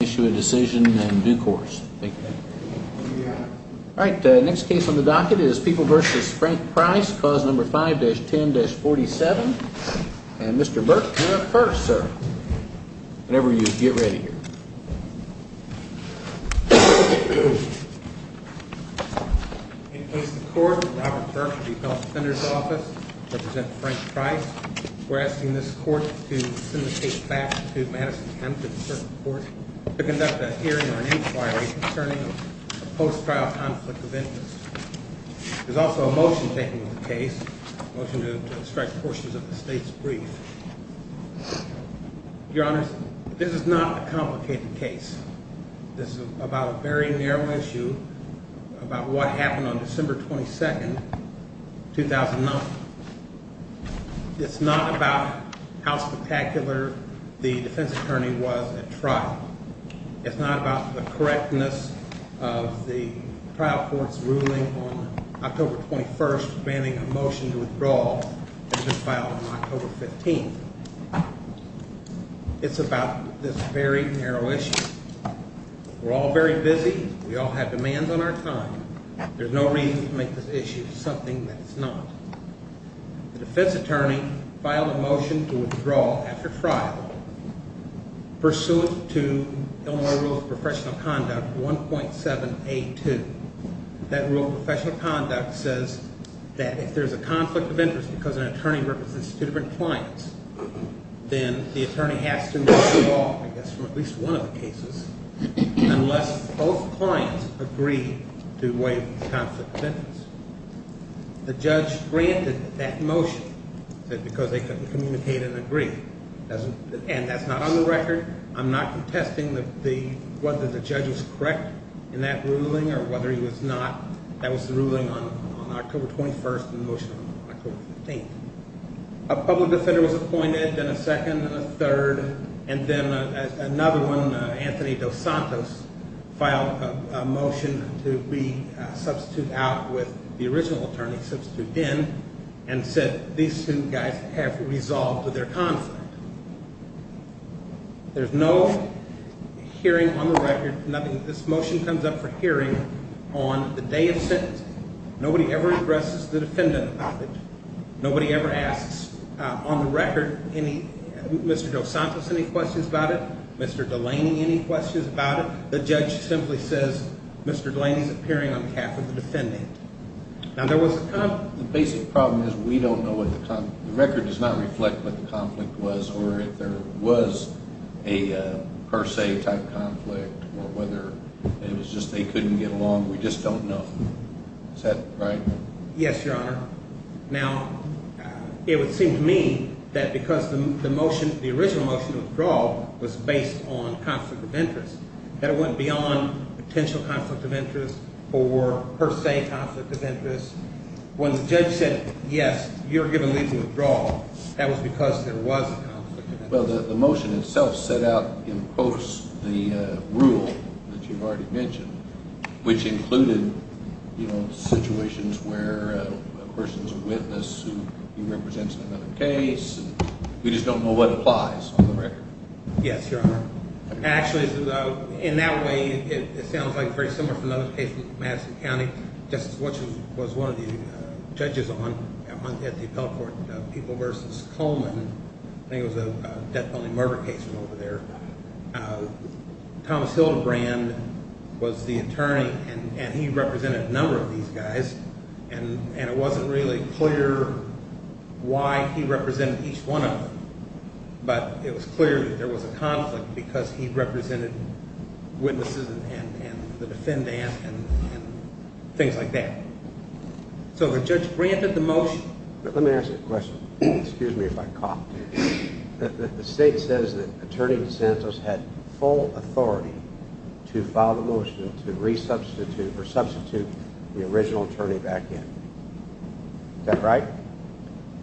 Issue a decision in due course. Thank you. All right, next case on the docket is People v. Frank Price, clause number 5-10-47. And Mr. Burke, you're up first, sir. Whenever you get ready. Thank you. In place of the court is Robert Burke of the Health Defender's Office, representing Frank Price. We're asking this court to send the case back to Madison County District Court to conduct a hearing or an inquiry concerning a post-trial conflict of interest. There's also a motion taking the case, a motion to extract portions of the state's brief. Your Honor, this is not a complicated case. This is about a very narrow issue about what happened on December 22, 2009. It's not about how spectacular the defense attorney was at trial. It's not about the correctness of the trial court's ruling on October 21 demanding a motion to withdraw that was filed on October 15. It's about this very narrow issue. We're all very busy. We all have demands on our time. There's no reason to make this issue something that it's not. The defense attorney filed a motion to withdraw after trial pursuant to Illinois Rule of Professional Conduct 1.782. That Rule of Professional Conduct says that if there's a conflict of interest because an attorney represents two different clients, then the attorney has to withdraw, I guess, from at least one of the cases unless both clients agree to waive the conflict of interest. The judge granted that motion because they couldn't communicate and agree. And that's not on the record. I'm not contesting whether the judge was correct in that ruling or whether he was not. That was the ruling on October 21 and the motion on October 15. A public defender was appointed, then a second and a third. And then another one, Anthony Dos Santos, filed a motion to be substituted out with the original attorney substituted in and said these two guys have resolved their conflict. There's no hearing on the record. This motion comes up for hearing on the day of sentencing. Nobody ever addresses the defendant about it. Nobody ever asks on the record, Mr. Dos Santos, any questions about it, Mr. Delaney, any questions about it. The judge simply says, Mr. Delaney's appearing on behalf of the defendant. Now, there was a conflict. The basic problem is we don't know what the – the record does not reflect what the conflict was or if there was a per se type conflict or whether it was just they couldn't get along. We just don't know. Is that right? Yes, Your Honor. Now, it would seem to me that because the motion – the original motion to withdraw was based on conflict of interest, that it went beyond potential conflict of interest or per se conflict of interest. When the judge said, yes, you're given leave to withdraw, that was because there was a conflict of interest. Well, the motion itself set out in quotes the rule that you've already mentioned, which included situations where a person's a witness who represents another case, and we just don't know what applies on the record. Yes, Your Honor. Actually, in that way, it sounds like very similar to another case in Madison County. Just as what was one of the judges on at the appellate court, People v. Coleman, I think it was a death penalty murder case from over there. Thomas Hildebrand was the attorney, and he represented a number of these guys, and it wasn't really clear why he represented each one of them, but it was clear that there was a conflict because he represented witnesses and the defendant and things like that. So the judge granted the motion. Let me ask you a question. Excuse me if I cough. The state says that Attorney DeSantis had full authority to file the motion to resubstitute or substitute the original attorney back in. Is that right?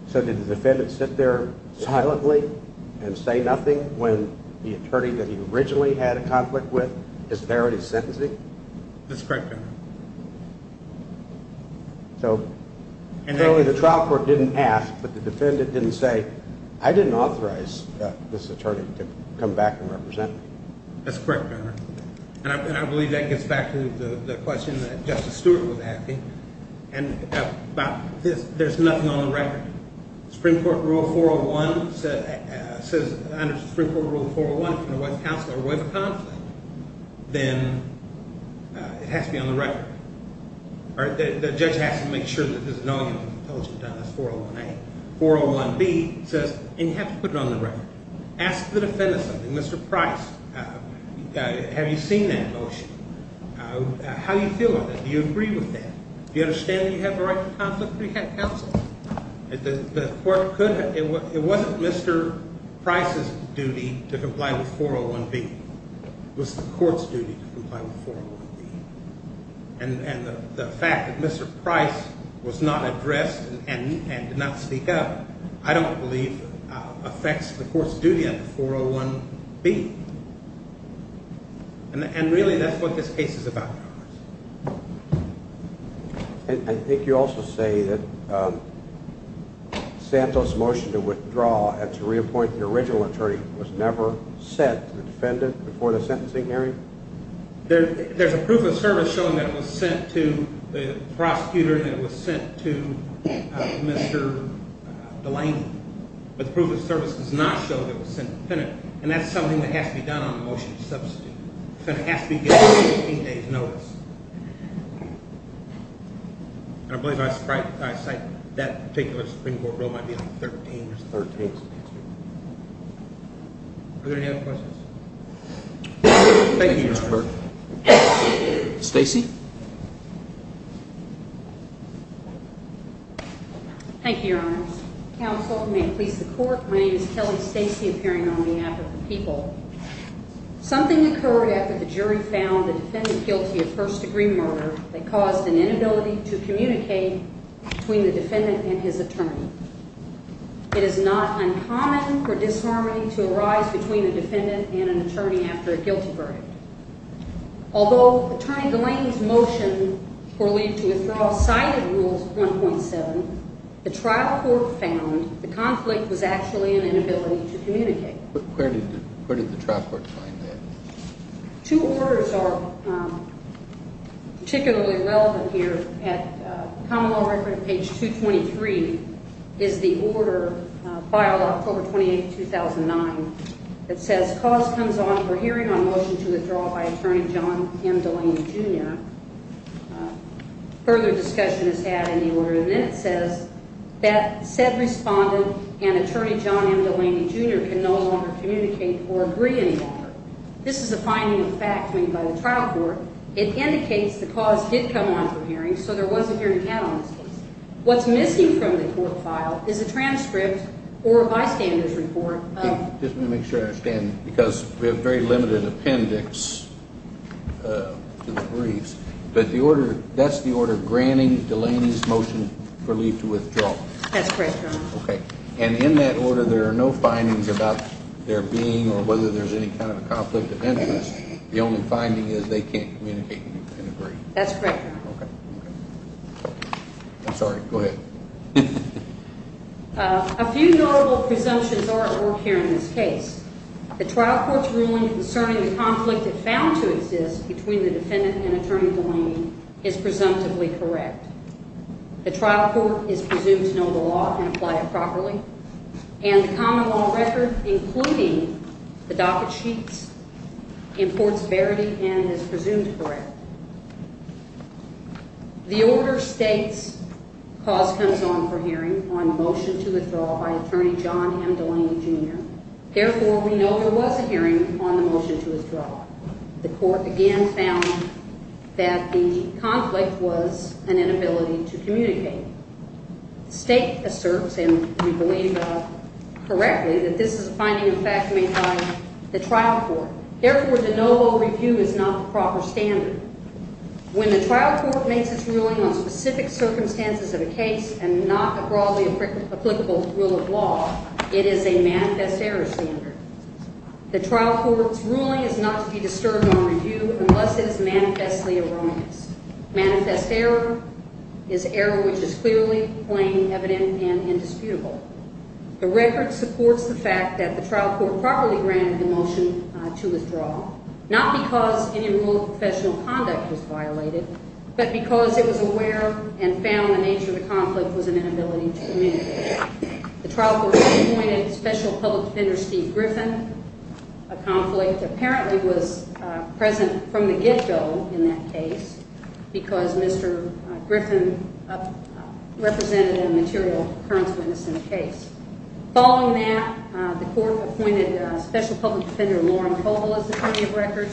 So did the defendant sit there silently and say nothing when the attorney that he originally had a conflict with is there and he's sentencing? That's correct, Your Honor. So clearly the trial court didn't ask, but the defendant didn't say, I didn't authorize this attorney to come back and represent me. That's correct, Your Honor, and I believe that gets back to the question that Justice Stewart was asking about there's nothing on the record. Supreme Court Rule 401 says, under Supreme Court Rule 401, if you're a wife of counsel or a wife of conflict, then it has to be on the record. The judge has to make sure that there's no intelligence done. That's 401A. 401B says you have to put it on the record. Ask the defendant something. Mr. Price, have you seen that motion? How do you feel about that? Do you agree with that? Do you understand that you have a right to conflict if you have counsel? The court could have – it wasn't Mr. Price's duty to comply with 401B. It was the court's duty to comply with 401B. And the fact that Mr. Price was not addressed and did not speak up, I don't believe affects the court's duty under 401B. And really that's what this case is about. I think you also say that Santos' motion to withdraw and to reappoint the original attorney was never sent to the defendant before the sentencing hearing? There's a proof of service showing that it was sent to the prosecutor and it was sent to Mr. Delaney. But the proof of service does not show that it was sent to the defendant. And that's something that has to be done on the motion to substitute. So it has to be given 18 days' notice. And I believe I cite that particular Supreme Court rule might be on 13. Are there any other questions? Thank you, Your Honor. Stacy? Thank you, Your Honor. Counsel, may it please the court. My name is Kelly Stacy, appearing on behalf of the people. Something occurred after the jury found the defendant guilty of first-degree murder that caused an inability to communicate between the defendant and his attorney. It is not uncommon for disharmony to arise between a defendant and an attorney after a guilty verdict. Although Attorney Delaney's motion will lead to withdrawal cited Rules 1.7, the trial court found the conflict was actually an inability to communicate. Where did the trial court find that? Two orders are particularly relevant here. At Common Law Record, page 223, is the order filed October 28, 2009, that says, cause comes on for hearing on motion to withdraw by Attorney John M. Delaney, Jr. Further discussion is had in the order, and then it says that said respondent and Attorney John M. Delaney, Jr. can no longer communicate or agree any longer. This is a finding of fact made by the trial court. It indicates the cause did come on for hearing, so there was a hearing count on this case. What's missing from the court file is a transcript or a bystander's report of Let me make sure I understand, because we have very limited appendix to the briefs, but that's the order granting Delaney's motion for leave to withdraw. That's correct, Your Honor. And in that order, there are no findings about their being or whether there's any kind of conflict of interest. The only finding is they can't communicate and agree. That's correct, Your Honor. I'm sorry. Go ahead. A few notable presumptions are at work here in this case. The trial court's ruling concerning the conflict it found to exist between the defendant and Attorney Delaney is presumptively correct. The trial court is presumed to know the law and apply it properly, and the common law record, including the docket sheets, imports verity and is presumed correct. The order states cause comes on for hearing on motion to withdraw by Attorney John M. Delaney, Jr. Therefore, we know there was a hearing on the motion to withdraw. The court again found that the conflict was an inability to communicate. The state asserts, and we believe correctly, that this is a finding of fact made by the trial court. Therefore, the NOVO review is not the proper standard. When the trial court makes its ruling on specific circumstances of a case and not a broadly applicable rule of law, it is a manifest error standard. The trial court's ruling is not to be disturbed on review unless it is manifestly erroneous. Manifest error is error which is clearly plain, evident, and indisputable. The record supports the fact that the trial court properly granted the motion to withdraw, not because any rule of professional conduct was violated, but because it was aware and found the nature of the conflict was an inability to communicate. The trial court appointed Special Public Defender Steve Griffin. A conflict apparently was present from the get-go in that case because Mr. Griffin represented a material occurrence witness in the case. Following that, the court appointed Special Public Defender Lauren Koval as attorney of record.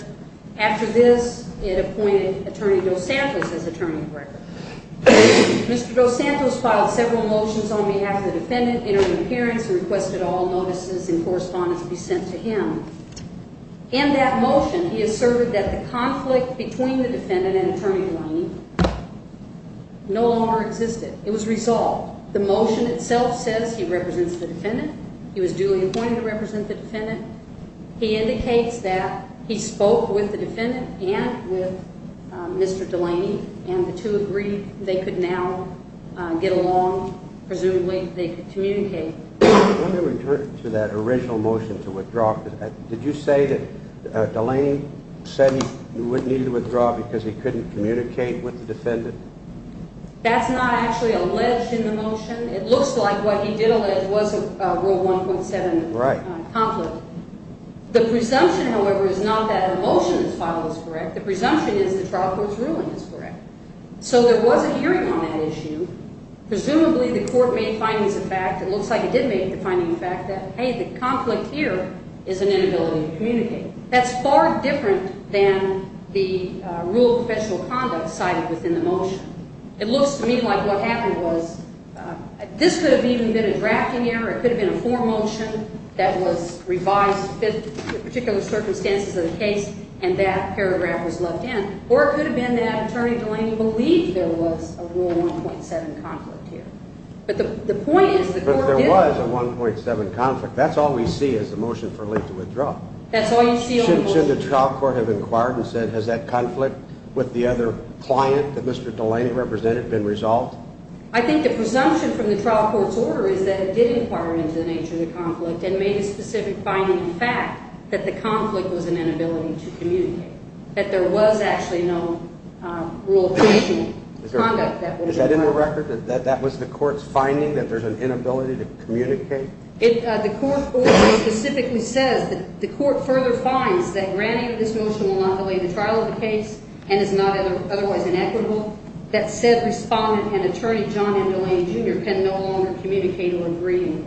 After this, it appointed Attorney Dos Santos as attorney of record. Mr. Dos Santos filed several motions on behalf of the defendant, entered an appearance, and requested all notices and correspondence be sent to him. In that motion, he asserted that the conflict between the defendant and Attorney Delaney no longer existed. It was resolved. The motion itself says he represents the defendant. He was duly appointed to represent the defendant. He indicates that he spoke with the defendant and with Mr. Delaney, and the two agreed they could now get along. Presumably, they could communicate. Let me return to that original motion to withdraw. Did you say that Delaney said he needed to withdraw because he couldn't communicate with the defendant? That's not actually alleged in the motion. It looks like what he did allege was Rule 1.7 of the conflict. The presumption, however, is not that a motion that's filed is correct. The presumption is the trial court's ruling is correct. So there was a hearing on that issue. Presumably, the court made findings of fact. It looks like it did make the finding of fact that, hey, the conflict here is an inability to communicate. That's far different than the rule of professional conduct cited within the motion. It looks to me like what happened was this could have even been a drafting error. It could have been a fore motion that was revised to fit the particular circumstances of the case, and that paragraph was left in. Or it could have been that Attorney Delaney believed there was a Rule 1.7 conflict here. But the point is the court didn't. But there was a 1.7 conflict. That's all we see as the motion for late to withdraw. That's all you see on the motion. Shouldn't the trial court have inquired and said, has that conflict with the other client that Mr. Delaney represented been resolved? I think the presumption from the trial court's order is that it did inquire into the nature of the conflict and made a specific finding of fact that the conflict was an inability to communicate, that there was actually no rule of professional conduct that would occur. Is that in the record? That was the court's finding that there's an inability to communicate? The court order specifically says that the court further finds that granting this motion will not delay the trial of the case and is not otherwise inequitable. That said respondent and attorney John M. Delaney, Jr. can no longer communicate or agree.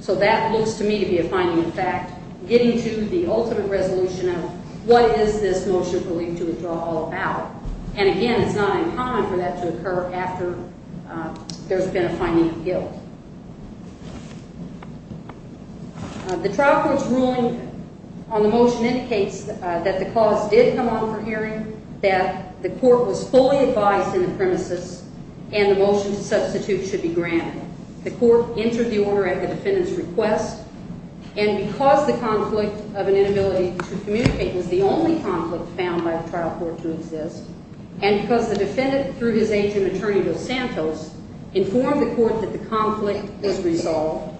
So that looks to me to be a finding of fact. Getting to the ultimate resolution of what is this motion for late to withdraw all about? And again, it's not uncommon for that to occur after there's been a finding of guilt. The trial court's ruling on the motion indicates that the cause did come on for hearing, that the court was fully advised in the premises, and the motion to substitute should be granted. The court entered the order at the defendant's request. And because the conflict of an inability to communicate was the only conflict found by the trial court to exist, and because the defendant through his agent attorney Bill Santos informed the court that the conflict was resolved,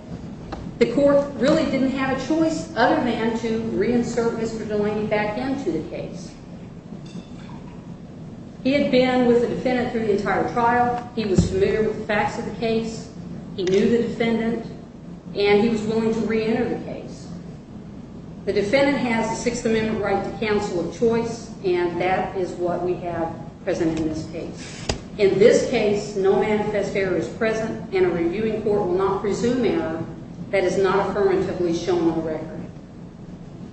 the court really didn't have a choice other than to reinsert Mr. Delaney back into the case. He had been with the defendant through the entire trial. He was familiar with the facts of the case. He knew the defendant. And he was willing to reenter the case. The defendant has a Sixth Amendment right to counsel of choice, and that is what we have present in this case. In this case, no manifest error is present, and a reviewing court will not presume error that is not affirmatively shown on the record.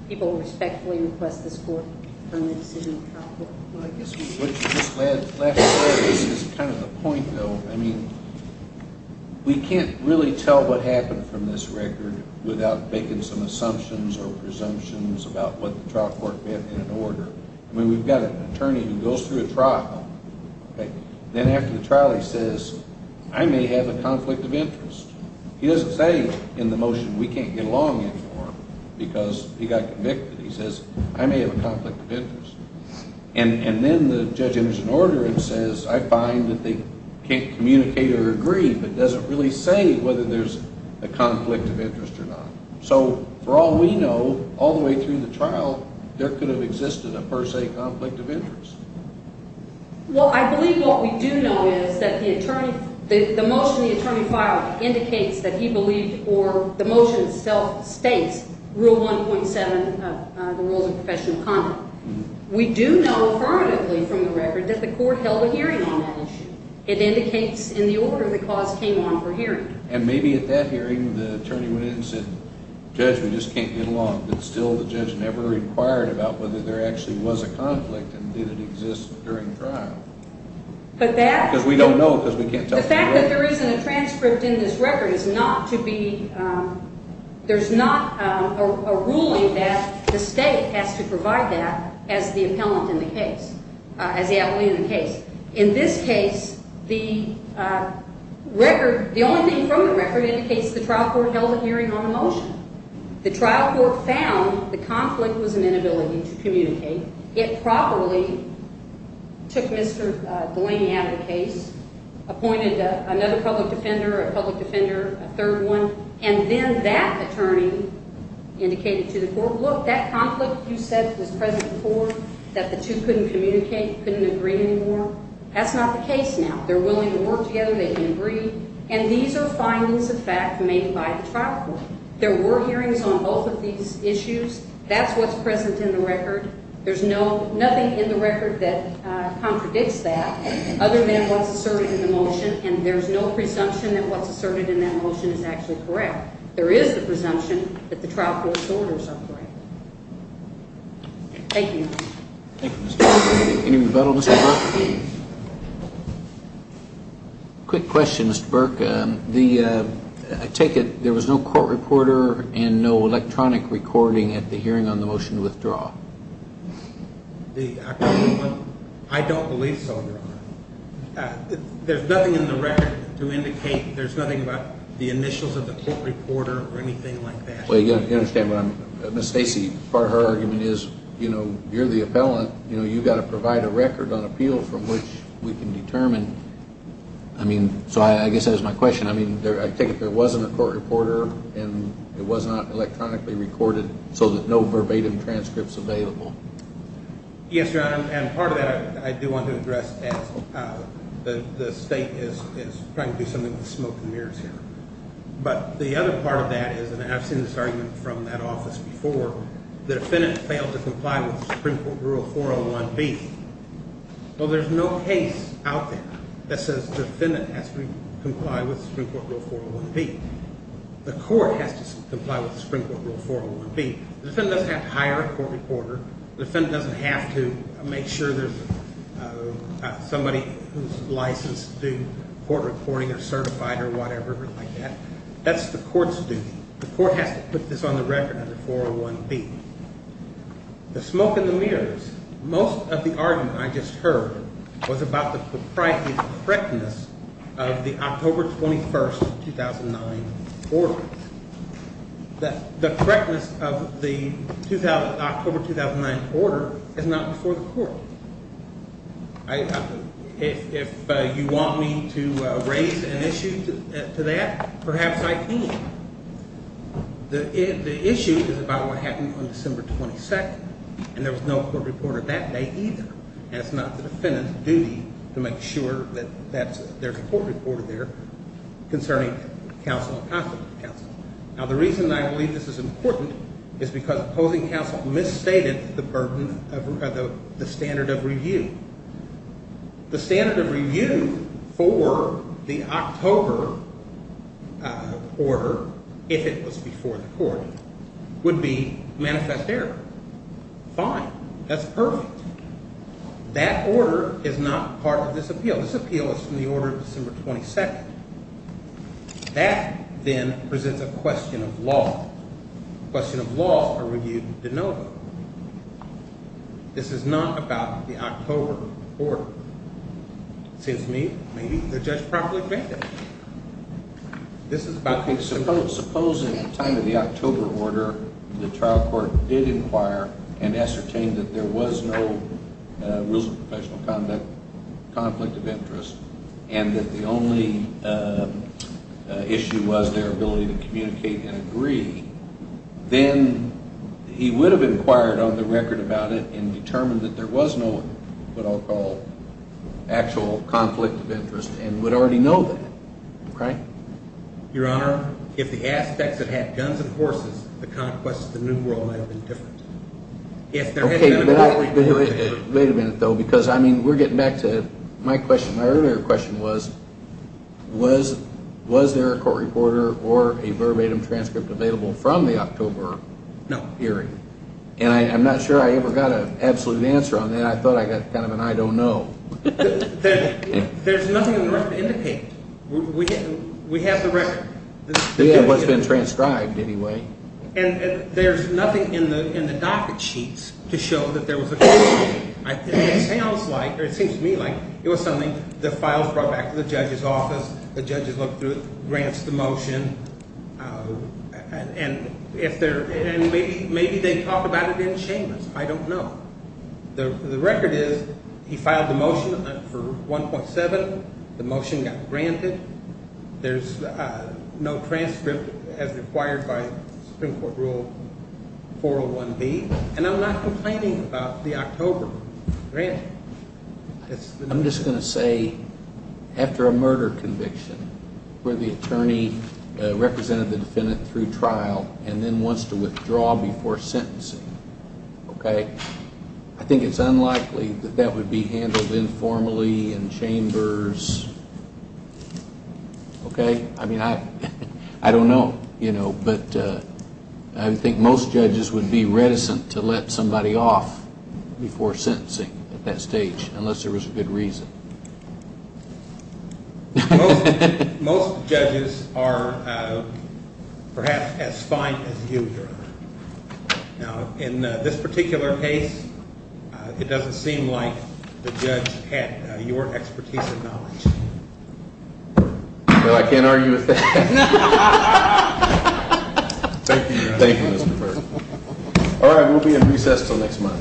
People respectfully request this court to confirm the decision of the trial court. Well, I guess what you just left out is kind of the point, though. I mean, we can't really tell what happened from this record without making some assumptions or presumptions about what the trial court meant in an order. I mean, we've got an attorney who goes through a trial. Then after the trial, he says, I may have a conflict of interest. He doesn't say in the motion, we can't get along anymore because he got convicted. He says, I may have a conflict of interest. And then the judge enters an order and says, I find that they can't communicate or agree, but doesn't really say whether there's a conflict of interest or not. So for all we know, all the way through the trial, there could have existed a per se conflict of interest. Well, I believe what we do know is that the motion the attorney filed indicates that he believed or the motion itself states Rule 1.7 of the Rules of Professional Conduct. We do know affirmatively from the record that the court held a hearing on that issue. It indicates in the order the cause came on for hearing. And maybe at that hearing, the attorney went in and said, Judge, we just can't get along. But still the judge never inquired about whether there actually was a conflict and did it exist during trial. Because we don't know because we can't tell. The fact that there isn't a transcript in this record is not to be, there's not a ruling that the state has to provide that as the appellant in the case, as the appellee in the case. In this case, the record, the only thing from the record indicates the trial court held a hearing on the motion. The trial court found the conflict was an inability to communicate. It probably took Mr. Delaney out of the case, appointed another public defender, a public defender, a third one. And then that attorney indicated to the court, look, that conflict you said was present before, that the two couldn't communicate, couldn't agree anymore. That's not the case now. They're willing to work together. They can agree. And these are findings of fact made by the trial court. There were hearings on both of these issues. That's what's present in the record. There's nothing in the record that contradicts that other than what's asserted in the motion, and there's no presumption that what's asserted in that motion is actually correct. There is the presumption that the trial court's orders are correct. Thank you. Thank you, Mr. Delaney. Quick question, Mr. Burke. I take it there was no court reporter and no electronic recording at the hearing on the motion to withdraw. I don't believe so, Your Honor. There's nothing in the record to indicate there's nothing about the initials of the court reporter or anything like that. Well, you understand what I'm, Ms. Stacy, part of her argument is, you know, you're the appellant. You know, you've got to provide a record on appeal from which we can determine. I mean, so I guess that is my question. I mean, I take it there wasn't a court reporter, and it was not electronically recorded, so there's no verbatim transcripts available. Yes, Your Honor, and part of that I do want to address as the State is trying to do something with smoke and mirrors here. But the other part of that is, and I've seen this argument from that office before, the defendant failed to comply with Supreme Court Rule 401B. Well, there's no case out there that says the defendant has to comply with Supreme Court Rule 401B. The court has to comply with Supreme Court Rule 401B. The defendant doesn't have to hire a court reporter. The defendant doesn't have to make sure there's somebody who's licensed to do court reporting or certified or whatever like that. That's the court's duty. The court has to put this on the record under 401B. The smoke and the mirrors, most of the argument I just heard was about the propriety and correctness of the October 21, 2009 order. The correctness of the October 2009 order is not before the court. If you want me to raise an issue to that, perhaps I can. The issue is about what happened on December 22, and there was no court reporter that day either. And it's not the defendant's duty to make sure that there's a court reporter there concerning counsel and possible counsel. Now, the reason I believe this is important is because opposing counsel misstated the burden of the standard of review. The standard of review for the October order, if it was before the court, would be manifest error. Fine. That's perfect. That order is not part of this appeal. This appeal is from the order of December 22. That, then, presents a question of law. The question of law is a review de novo. This is not about the October order. It seems to me maybe the judge probably made that. This is about the October order. Supposing at the time of the October order, the trial court did inquire and ascertain that there was no rules of professional conduct, conflict of interest, and that the only issue was their ability to communicate and agree, then he would have inquired on the record about it and determined that there was no, what I'll call, actual conflict of interest and would already know that. Okay? Your Honor, if the aspects had had guns and horses, the conquest of the New World might have been different. If there had been a conflict of interest. Wait a minute, though, because, I mean, we're getting back to my question. Was there a court reporter or a verbatim transcript available from the October period? No. And I'm not sure I ever got an absolute answer on that. I thought I got kind of an I don't know. There's nothing worth indicating. We have the record. We have what's been transcribed, anyway. And there's nothing in the docket sheets to show that there was a conflict. It sounds like, or it seems to me like, it was something the files brought back to the judge's office. The judges looked through it, grants the motion, and maybe they talked about it in shamans. I don't know. The record is he filed the motion for 1.7. The motion got granted. There's no transcript as required by Supreme Court Rule 401B. And I'm not complaining about the October granting. I'm just going to say after a murder conviction where the attorney represented the defendant through trial and then wants to withdraw before sentencing, okay, I think it's unlikely that that would be handled informally in chambers. Okay? I mean, I don't know. But I think most judges would be reticent to let somebody off before sentencing at that stage unless there was a good reason. Most judges are perhaps as fine as you, Your Honor. Now, in this particular case, it doesn't seem like the judge had your expertise and knowledge. Well, I can't argue with that. Thank you, Your Honor. Thank you, Mr. Burke. All right. We'll be in recess until next month.